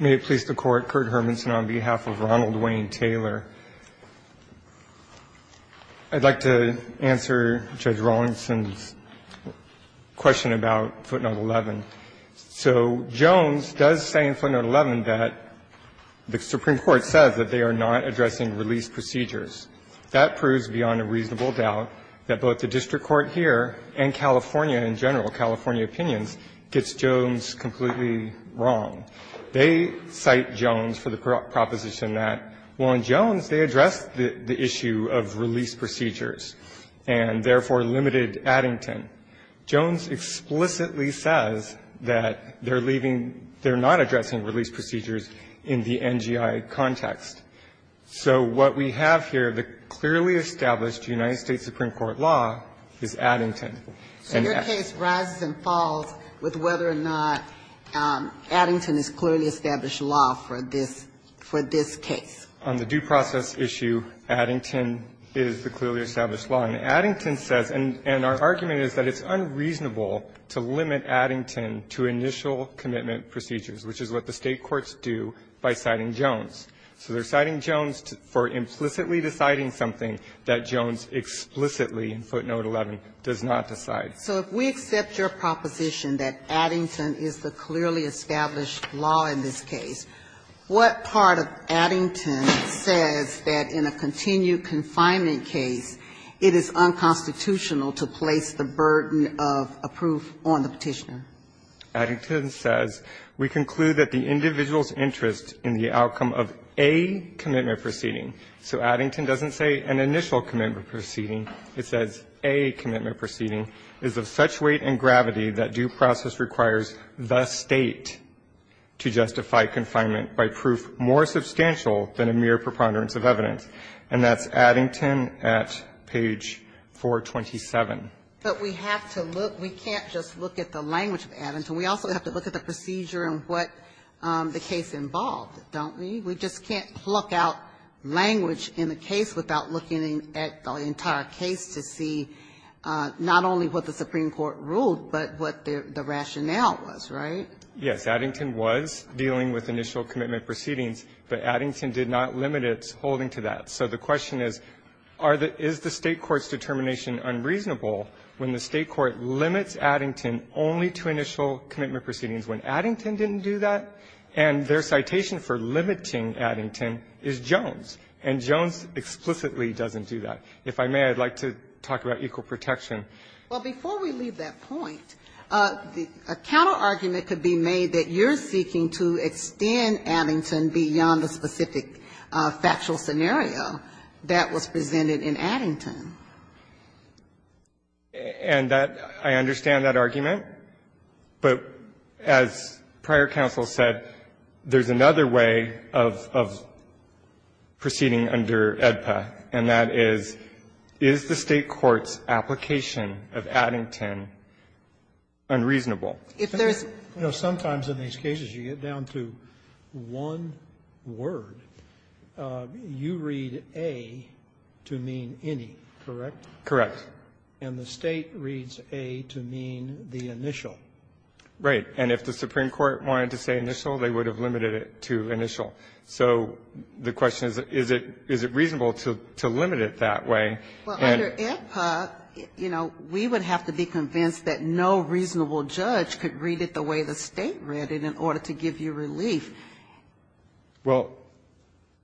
May it please the Court, Kurt Hermanson on behalf of Ronald Wayne Taylor. I'd like to answer Judge Rawlinson's question about footnote 11. So, Jones does say in footnote 11 that the Supreme Court says that they are not addressing release procedures. That proves beyond a reasonable doubt that both the district court here and California in general, California opinions, gets Jones completely wrong. They cite Jones for the proposition that, well, in Jones they address the issue of release procedures and therefore limited Addington. Jones explicitly says that they're leaving, they're not addressing release procedures in the NGI context. So what we have here, the clearly established United States Supreme Court law is Addington. And your case rises and falls with whether or not Addington is clearly established law for this, for this case. On the due process issue, Addington is the clearly established law. And Addington says, and our argument is that it's unreasonable to limit Addington to initial commitment procedures, which is what the State courts do by citing Jones. So they're citing Jones for implicitly deciding something that Jones explicitly in footnote 11 does not decide. So if we accept your proposition that Addington is the clearly established law in this case, what part of Addington says that in a continued confinement case it is unconstitutional to place the burden of a proof on the Petitioner? Addington says, we conclude that the individual's interest in the outcome of a commitment proceeding. So Addington doesn't say an initial commitment proceeding. It says a commitment proceeding is of such weight and gravity that due process requires the State to justify confinement by proof more substantial than a mere preponderance of evidence, and that's Addington at page 427. But we have to look, we can't just look at the language of Addington. We also have to look at the procedure and what the case involved, don't we? We just can't pluck out language in a case without looking at the entire case to see not only what the Supreme Court ruled, but what the rationale was, right? Yes. Addington was dealing with initial commitment proceedings, but Addington did not limit its holding to that. So the question is, are the — is the State court's determination unreasonable when the State court limits Addington only to initial commitment proceedings when Addington didn't do that? And their citation for limiting Addington is Jones. And Jones explicitly doesn't do that. If I may, I'd like to talk about equal protection. Well, before we leave that point, a counterargument could be made that you're seeking to extend Addington beyond the specific factual scenario that was presented in Addington. And that — I understand that argument. But as prior counsel said, there's another way of proceeding under AEDPA, and that is, is the State court's application of Addington unreasonable? If there's — The point is, as you get down to one word, you read A to mean any, correct? Correct. And the State reads A to mean the initial. Right. And if the Supreme Court wanted to say initial, they would have limited it to initial. So the question is, is it reasonable to limit it that way? Well, under AEDPA, you know, we would have to be convinced that no reasonable judge could read it the way the State read it in order to give you relief. Well,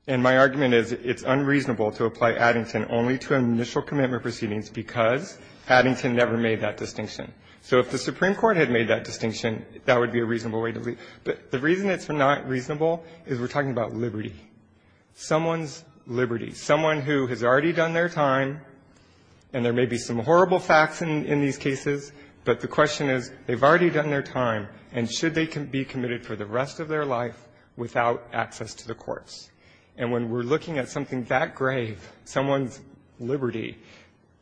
and my argument is, it's unreasonable to apply Addington only to initial commitment proceedings because Addington never made that distinction. So if the Supreme Court had made that distinction, that would be a reasonable way to leave. But the reason it's not reasonable is we're talking about liberty, someone's liberty, someone who has already done their time, and there may be some horrible facts in these cases, but the question is, they've already done their time, and should they be committed for the rest of their life without access to the courts? And when we're looking at something that grave, someone's liberty,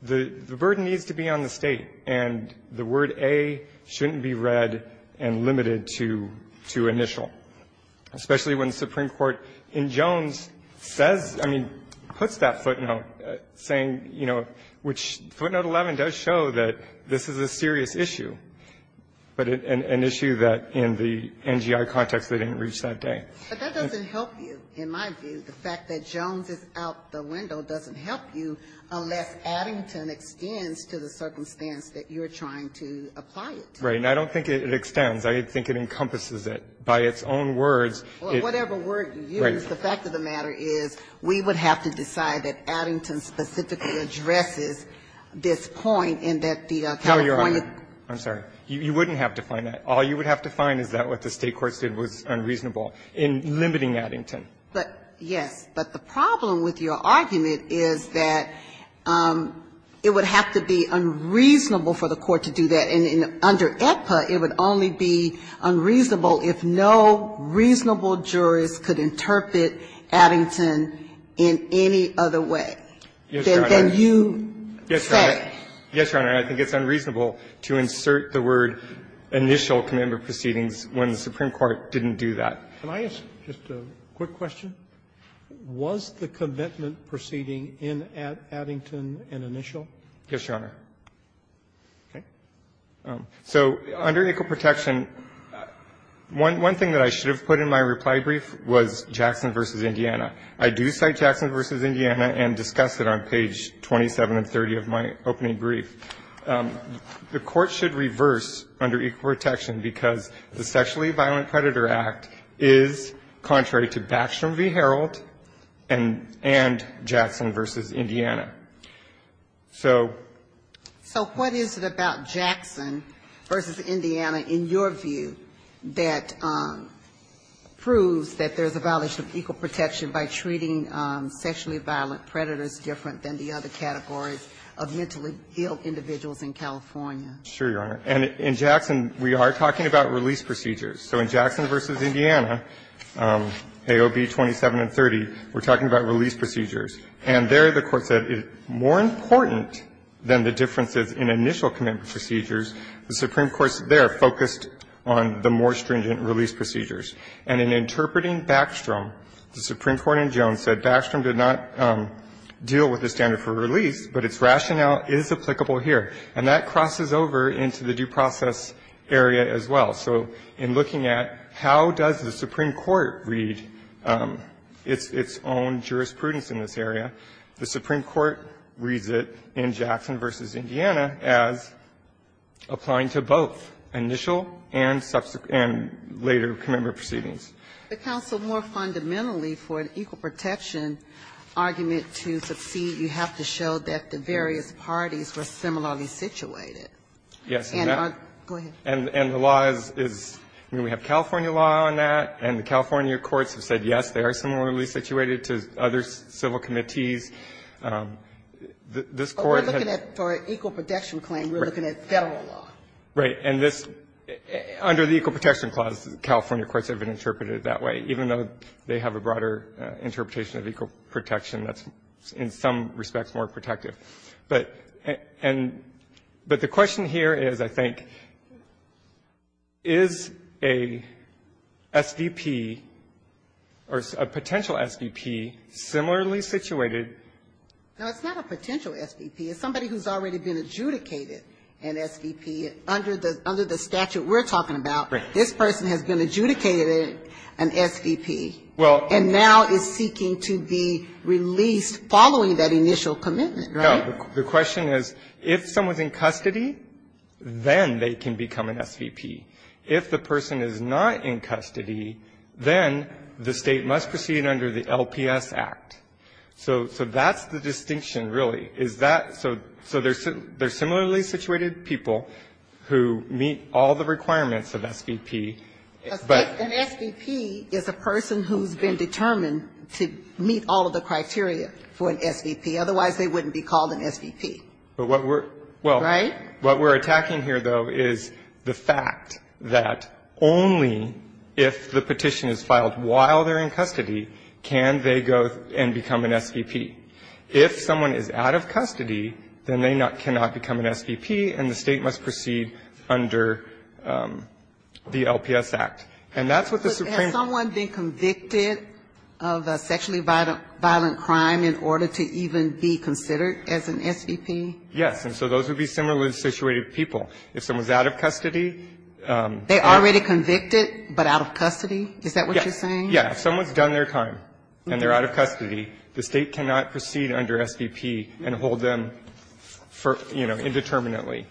the burden needs to be on the State, and the word A shouldn't be read and limited to initial, especially when the Supreme Court in Jones says — I mean, puts that footnote saying, you know, which footnote 11 does show that this is a serious issue, but an issue that in the NGI context they didn't reach that day. But that doesn't help you, in my view. The fact that Jones is out the window doesn't help you unless Addington extends to the circumstance that you're trying to apply it to. Right. And I don't think it extends. I think it encompasses it. By its own words, it — Well, whatever word you use, the fact of the matter is, we would have to decide that Addington specifically addresses this point, and that the California — No, Your Honor. I'm sorry. You wouldn't have to find that. All you would have to find is that what the State courts did was unreasonable in limiting Addington. But, yes. But the problem with your argument is that it would have to be unreasonable for the court to do that. And under AEDPA, it would only be unreasonable if no reasonable jurist could interpret Addington in any other way than you say. Yes, Your Honor. Yes, Your Honor. And I think it's unreasonable to insert the word initial commitment proceedings when the Supreme Court didn't do that. Can I ask just a quick question? Was the commitment proceeding in Addington an initial? Yes, Your Honor. Okay. So under Equal Protection, one thing that I should have put in my reply brief was Jackson v. Indiana. I do cite Jackson v. Indiana and discuss it on page 27 and 30 of my opening brief. The Court should reverse under Equal Protection because the Sexually Violent Predator Act is contrary to Batchelor v. Herald and Jackson v. Indiana. So — So what is it about Jackson v. Indiana, in your view, that proves that there's a violation of equal protection by treating sexually violent predators different than the other categories of mentally ill individuals in California? Sure, Your Honor. And in Jackson, we are talking about release procedures. So in Jackson v. Indiana, AOB 27 and 30, we're talking about release procedures. And there the Court said it's more important than the differences in initial commitment procedures. The Supreme Court there focused on the more stringent release procedures. And in interpreting Backstrom, the Supreme Court in Jones said Backstrom did not deal with the standard for release, but its rationale is applicable here. And that crosses over into the due process area as well. So in looking at how does the Supreme Court read its own jurisprudence in this area, the Supreme Court reads it in Jackson v. Indiana as applying to both initial and subsequent — and later commemorative proceedings. The counsel more fundamentally for an equal protection argument to succeed, you have to show that the various parties were similarly situated. Yes. And the law is — I mean, we have California law on that, and the California courts have said, yes, they are similarly situated to other civil committees. This Court — But we're looking at — for an equal protection claim, we're looking at Federal law. Right. And this — under the Equal Protection Clause, the California courts have been interpreted that way, even though they have a broader interpretation of equal protection that's, in some respects, more protective. But the question here is, I think, is a SVP or a potential SVP similarly situated? No, it's not a potential SVP. It's somebody who's already been adjudicated an SVP. Under the statute we're talking about, this person has been adjudicated an SVP. Well — And now is seeking to be released following that initial commitment. No. The question is, if someone's in custody, then they can become an SVP. If the person is not in custody, then the State must proceed under the LPS Act. So that's the distinction, really, is that — so they're similarly situated people who meet all the requirements of SVP, but — An SVP is a person who's been determined to meet all of the criteria for an SVP. Otherwise, they wouldn't be called an SVP. But what we're — Right? What we're attacking here, though, is the fact that only if the petition is filed while they're in custody can they go and become an SVP. If someone is out of custody, then they cannot become an SVP, and the State must proceed under the LPS Act. And that's what the Supreme — Has someone been convicted of a sexually violent crime in order to even be considered as an SVP? Yes. And so those would be similarly situated people. If someone's out of custody — They're already convicted, but out of custody? Is that what you're saying? Yeah. If someone's done their time and they're out of custody, the State cannot proceed under SVP and hold them for, you know, indeterminately.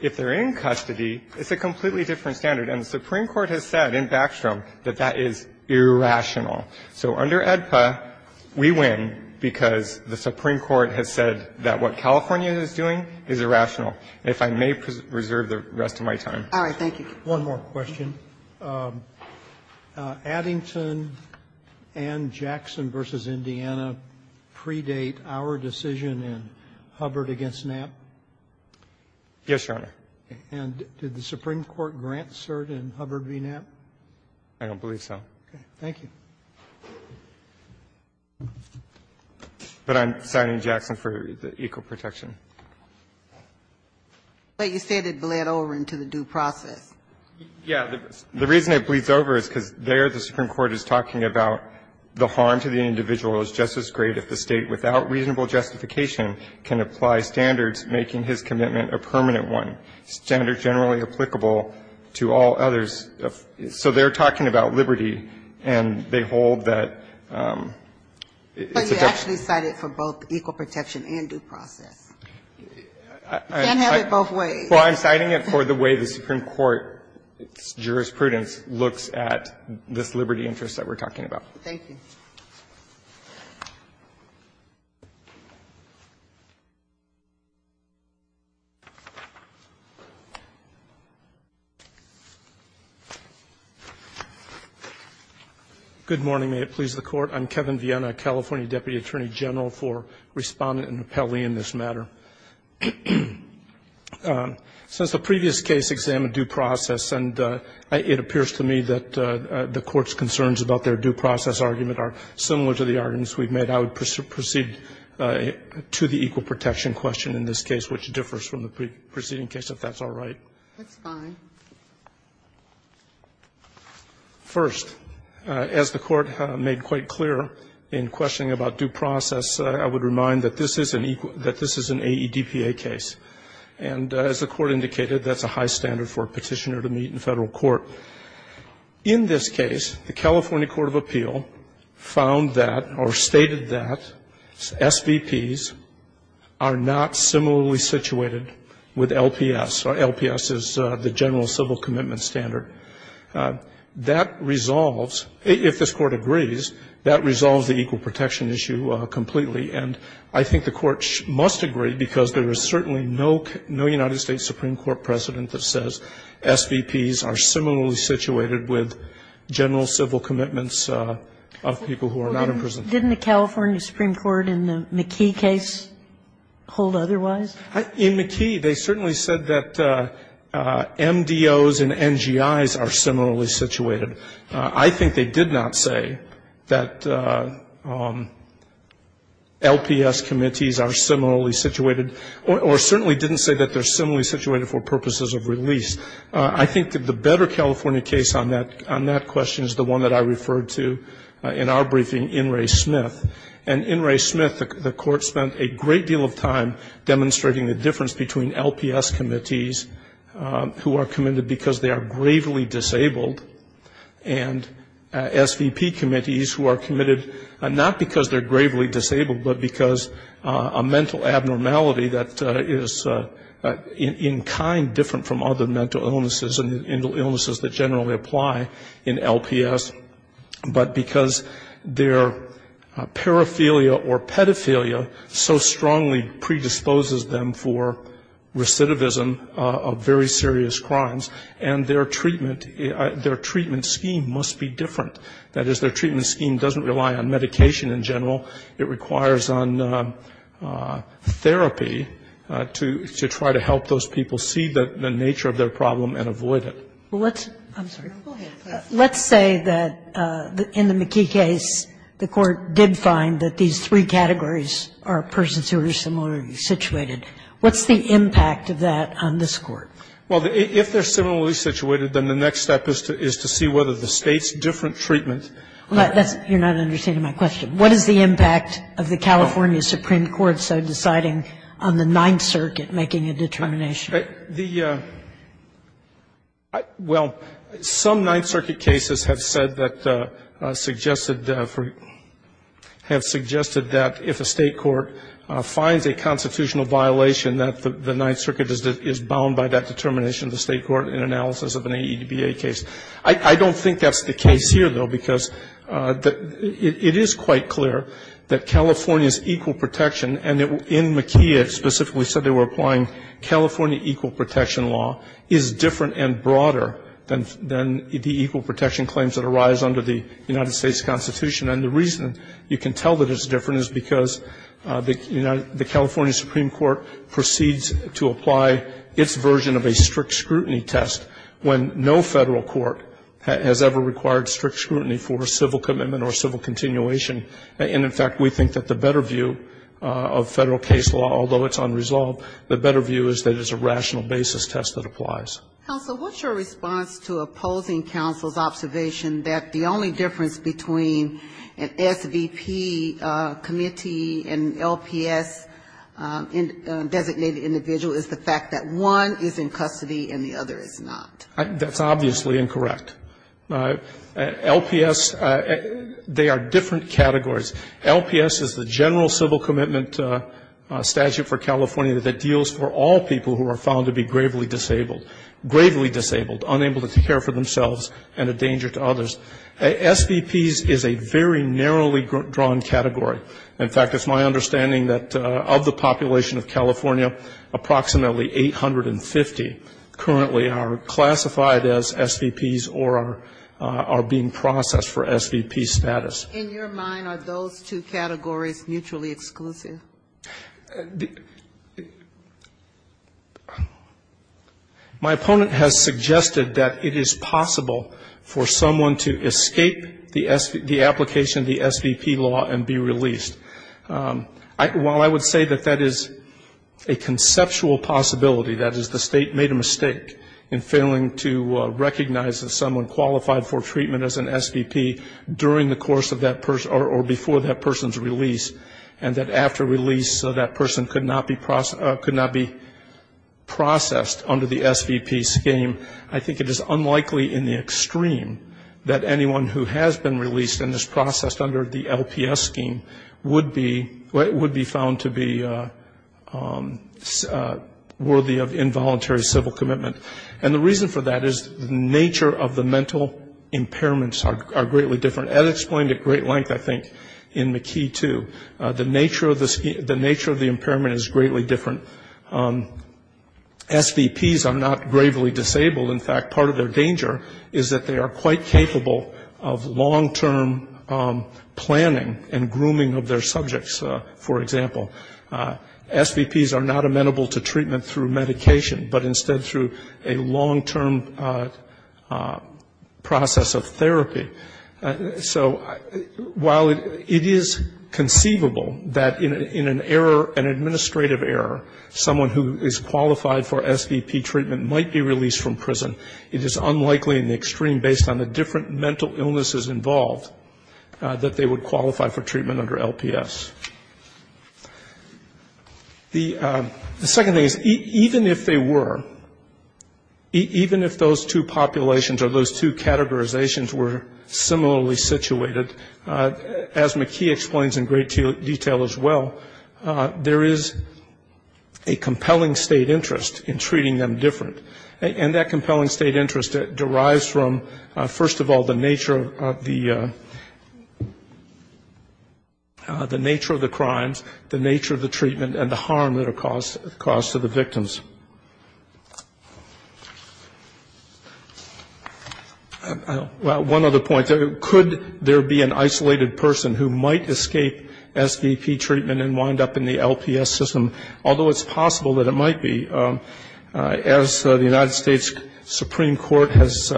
If they're in custody, it's a completely different standard. And the Supreme Court has said in Backstrom that that is irrational. So under AEDPA, we win because the Supreme Court has said that what California is doing is irrational. And if I may preserve the rest of my time. All right. Thank you. One more question. Addington and Jackson v. Indiana predate our decision in Hubbard v. Knapp? Yes, Your Honor. And did the Supreme Court grant cert in Hubbard v. Knapp? I don't believe so. Okay. Thank you. But I'm signing Jackson for equal protection. But you said it bled over into the due process. Yeah. The reason it bleeds over is because there the Supreme Court is talking about the harm to the individual is just as great if the State, without reasonable justification, can apply standards, making his commitment a permanent one, standards generally applicable to all others. So they're talking about liberty, and they hold that it's a due process. But you actually cited for both equal protection and due process. You can't have it both ways. Well, I'm citing it for the way the Supreme Court's jurisprudence looks at this liberty interest that we're talking about. Thank you. Good morning. May it please the Court. I'm Kevin Viena, California Deputy Attorney General for Respondent and Rappellee in this matter. Since the previous case examined due process, and it appears to me that the Court's argument are similar to the arguments we've made, I would proceed to the equal protection question in this case, which differs from the preceding case, if that's all right. That's fine. First, as the Court made quite clear in questioning about due process, I would remind that this is an AEDPA case, and as the Court indicated, that's a high standard for a Petitioner to meet in Federal court. In this case, the California Court of Appeal found that, or stated that, SVPs are not similarly situated with LPS, or LPS is the general civil commitment standard. That resolves, if this Court agrees, that resolves the equal protection issue completely. And I think the Court must agree, because there is certainly no United States Supreme Court precedent that says SVPs are similarly situated with general civil commitments of people who are not in prison. Didn't the California Supreme Court in the McKee case hold otherwise? In McKee, they certainly said that MDOs and NGIs are similarly situated. I think they did not say that LPS committees are similarly situated, or certainly didn't say that they're similarly situated for purposes of release. I think that the better California case on that question is the one that I referred to in our briefing, In re Smith. And in re Smith, the Court spent a great deal of time demonstrating the difference between LPS committees, who are committed because they are gravely disabled, and SVP committees who are committed not because they're gravely disabled, but because a mental abnormality that is in kind different from other mental illnesses and illnesses that generally apply in LPS, but because their paraphilia or pedophilia so strongly predisposes them for recidivism of very serious crimes. And their treatment, their treatment scheme must be different. That is, their treatment scheme doesn't rely on medication in general. It requires on therapy to try to help those people see the nature of their problem and avoid it. Well, let's say that in the McKee case, the Court did find that these three categories are persons who are similarly situated. What's the impact of that on this Court? Well, if they're similarly situated, then the next step is to see whether the State's different treatment. You're not understanding my question. What is the impact of the California Supreme Court so deciding on the Ninth Circuit making a determination? The — well, some Ninth Circuit cases have said that — have suggested that if a State Court finds a constitutional violation, that the Ninth Circuit is bound by that determination of the State Court in analysis of an AEDBA case. I don't think that's the case here, though, because it is quite clear that California's equal protection, and in McKee it specifically said they were applying California equal protection law, is different and broader than the equal protection claims that arise under the United States Constitution. And the reason you can tell that it's different is because the California Supreme Court proceeds to apply its version of a strict scrutiny test when no Federal court has ever required strict scrutiny for a civil commitment or civil continuation. And, in fact, we think that the better view of Federal case law, although it's unresolved, the better view is that it's a rational basis test that applies. Counsel, what's your response to opposing counsel's observation that the only difference between an SVP committee and LPS-designated individual is the fact that one is in custody and the other is not? That's obviously incorrect. LPS, they are different categories. LPS is the general civil commitment statute for California that deals for all people who are found to be gravely disabled, gravely disabled, unable to care for themselves and a danger to others. SVPs is a very narrowly drawn category. In fact, it's my understanding that of the population of California, approximately 850 currently are classified as SVPs or are being processed for SVP status. In your mind, are those two categories mutually exclusive? My opponent has suggested that it is possible for someone to escape the application of the SVP law and be released. While I would say that that is a conceptual possibility, that is the state made a mistake in failing to recognize that someone qualified for treatment as an SVP during the course of that person or before that person's release and that after release that person could not be processed under the SVP scheme, I think it is unlikely in the extreme that anyone who has been released and is processed under the LPS scheme would be found to be worthy of involuntary civil commitment. And the reason for that is the nature of the mental impairments are greatly different, as explained at great length, I think, in McKee 2. The nature of the impairment is greatly different. SVPs are not gravely disabled. In fact, part of their danger is that they are quite capable of long-term planning and grooming of their subjects, for example. SVPs are not amenable to treatment through medication, but instead through a long-term process of therapy. So while it is conceivable that in an error, an administrative error, someone who is treated as an SVP or as a person, it is unlikely in the extreme, based on the different mental illnesses involved, that they would qualify for treatment under LPS. The second thing is even if they were, even if those two populations or those two categorizations were similarly situated, as McKee explains in great detail as well, there is a compelling state interest in treating them different. And that compelling state interest derives from, first of all, the nature of the crimes, the nature of the treatment, and the harm that are caused to the victims. One other point, could there be an isolated person who might escape SVP treatment and wind up in the LPS system? Although it's possible that it might be, as the United States Supreme Court has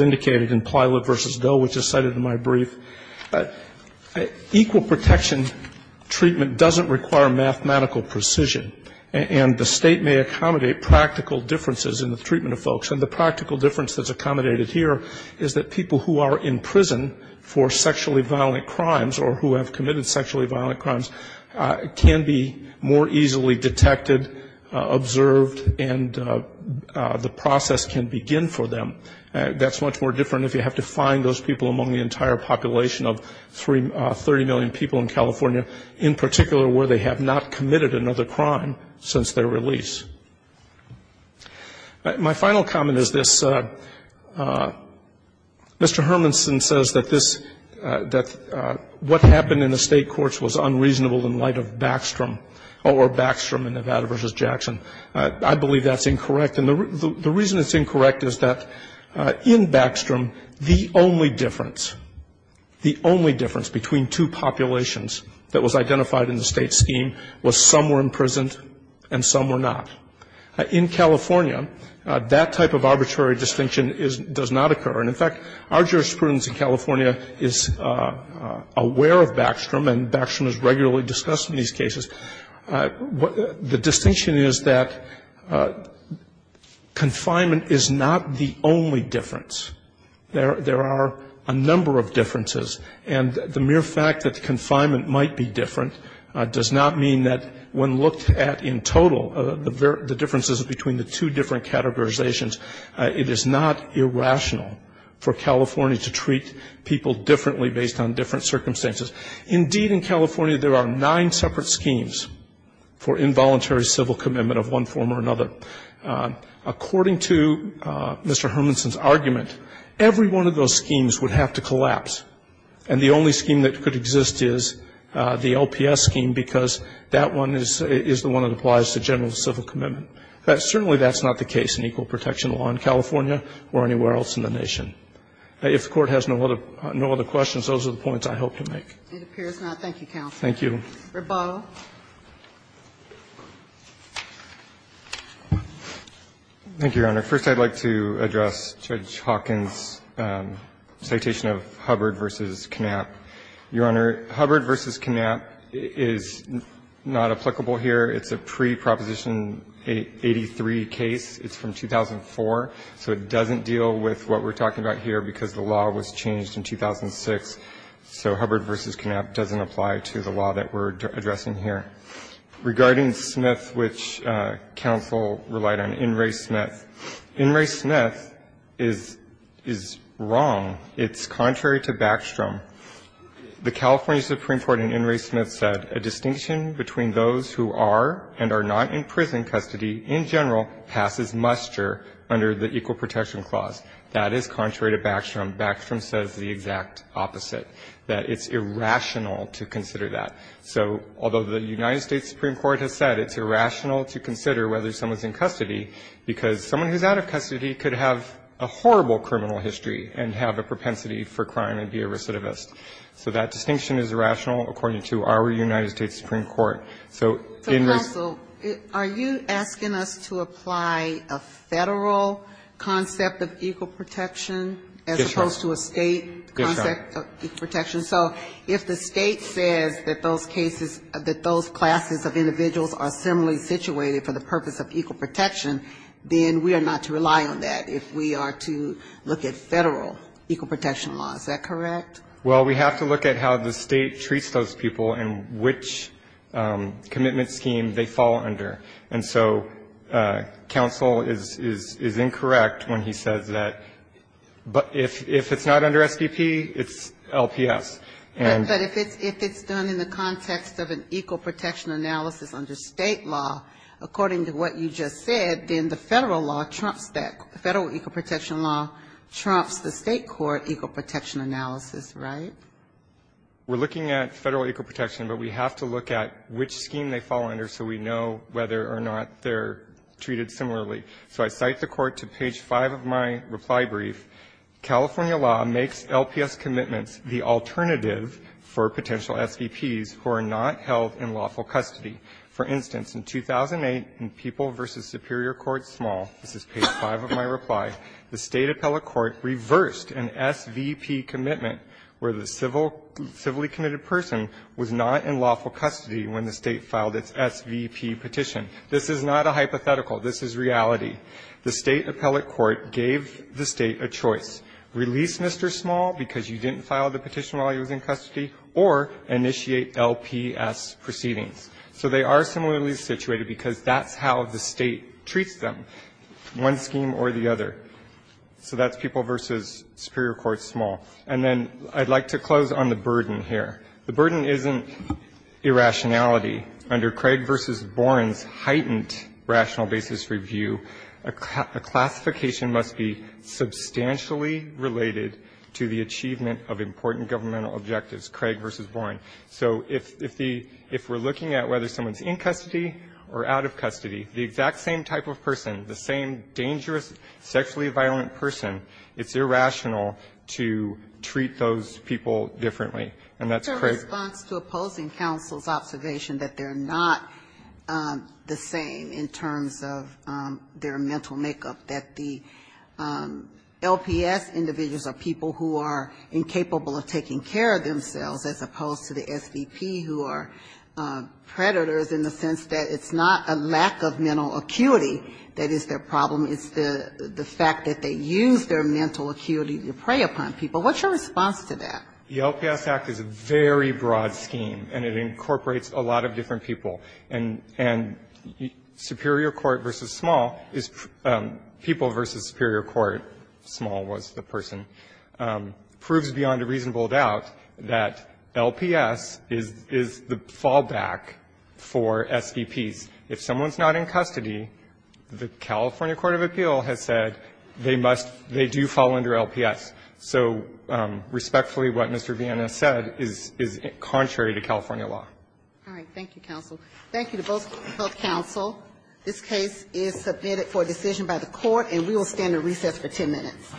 indicated in Plywood v. Doe, which is cited in my brief, equal protection treatment doesn't require mathematical precision, and the state may accommodate practical differences in the treatment of folks, and the practical difference that's accommodated here is that people who are in prison for sexually violent crimes or who have committed sexually violent crimes can be more easily detected, observed, and the process can begin for them. That's much more different if you have to find those people among the entire population of 30 million people in California, in particular where they have not committed another crime since their release. My final comment is this. Mr. Hermanson says that this, that what happened in the state of Baxtrom, or Baxtrom in Nevada v. Jackson, I believe that's incorrect. And the reason it's incorrect is that in Baxtrom, the only difference, the only difference between two populations that was identified in the state scheme was some were imprisoned and some were not. In California, that type of arbitrary distinction is, does not occur. And, in fact, our jurisprudence in California is aware of Baxtrom, and Baxtrom is regularly discussed in these cases. The distinction is that confinement is not the only difference. There are a number of differences, and the mere fact that confinement might be different does not mean that when looked at in total, the differences between the two different categorizations, it is not irrational for California to treat people differently based on different circumstances. Indeed, in California, there are nine separate schemes for involuntary civil commitment of one form or another. According to Mr. Hermanson's argument, every one of those schemes would have to collapse. And the only scheme that could exist is the LPS scheme, because that one is the one that applies to general civil commitment. But certainly that's not the case in equal protection law in California or anywhere else in the nation. If the Court has no other questions, those are the points I hope to make. It appears not. Thank you, counsel. Thank you. Rabeau. Thank you, Your Honor. First, I would like to address Judge Hawkins' citation of Hubbard v. Knapp. Your Honor, Hubbard v. Knapp is not applicable here. It's a pre-Proposition 83 case. It's from 2004. So it doesn't deal with what we're talking about here, because the law was changed in 2006. So Hubbard v. Knapp doesn't apply to the law that we're addressing here. Regarding Smith, which counsel relied on, In re. Smith. In re. Smith is wrong. It's contrary to Backstrom. The California Supreme Court in In re. Smith said, a distinction between those who are and are not in prison custody in general passes muster under the equal protection clause. That is contrary to Backstrom. Backstrom says the exact opposite, that it's irrational to consider that. So although the United States Supreme Court has said it's irrational to consider whether someone's in custody, because someone who's out of custody could have a horrible criminal history and have a propensity for crime and be a recidivist. So that distinction is irrational according to our United States Supreme Court. So in this ---- So, counsel, are you asking us to apply a Federal concept of equal protection as opposed to a State concept of equal protection? Yes, Your Honor. So if the State says that those cases, that those classes of individuals are similarly situated for the purpose of equal protection, then we are not to rely on that if we are to look at Federal equal protection law. Is that correct? Well, we have to look at how the State treats those people and which commitment scheme they fall under. And so counsel is incorrect when he says that. But if it's not under SBP, it's LPS. But if it's done in the context of an equal protection analysis under State law, according to what you just said, then the Federal law trumps that. Right? We're looking at Federal equal protection, but we have to look at which scheme they fall under so we know whether or not they're treated similarly. So I cite the Court to page 5 of my reply brief. California law makes LPS commitments the alternative for potential SVPs who are not held in lawful custody. For instance, in 2008, in People v. Superior Court Small this is page 5 of my reply, the State appellate court reversed an SVP commitment where the civilly committed person was not in lawful custody when the State filed its SVP petition. This is not a hypothetical. This is reality. The State appellate court gave the State a choice. Release Mr. Small because you didn't file the petition while he was in custody, or initiate LPS proceedings. So they are similarly situated because that's how the State treats them, one scheme or the other. So that's People v. Superior Court Small. And then I'd like to close on the burden here. The burden isn't irrationality. Under Craig v. Boren's heightened rational basis review, a classification must be substantially related to the achievement of important governmental objectives, Craig v. Boren. So if the ‑‑ if we're looking at whether someone's in custody or out of custody, the exact same type of person, the same dangerous, sexually violent person, it's irrational to treat those people differently. And that's Craig v. Boren. Ginsburg-Rose, Jr. It's a response to opposing counsel's observation that they're not the same in terms of their mental makeup, that the LPS individuals are people who are incapable of taking care of themselves, as opposed to the SVP who are predators in the sense that it's not a lack of mental acuity that is their problem. It's the fact that they use their mental acuity to prey upon people. What's your response to that? The LPS Act is a very broad scheme, and it incorporates a lot of different people. And superior court versus small is ‑‑ people versus superior court, small was the person, proves beyond a reasonable doubt that LPS is the fallback for SVPs. If someone's not in custody, the California court of appeal has said they must ‑‑ they do fall under LPS. So respectfully, what Mr. Viena said is contrary to California law. All right. Thank you, counsel. Thank you to both health counsel. This case is submitted for decision by the Court, and we will stand at recess for 10 minutes.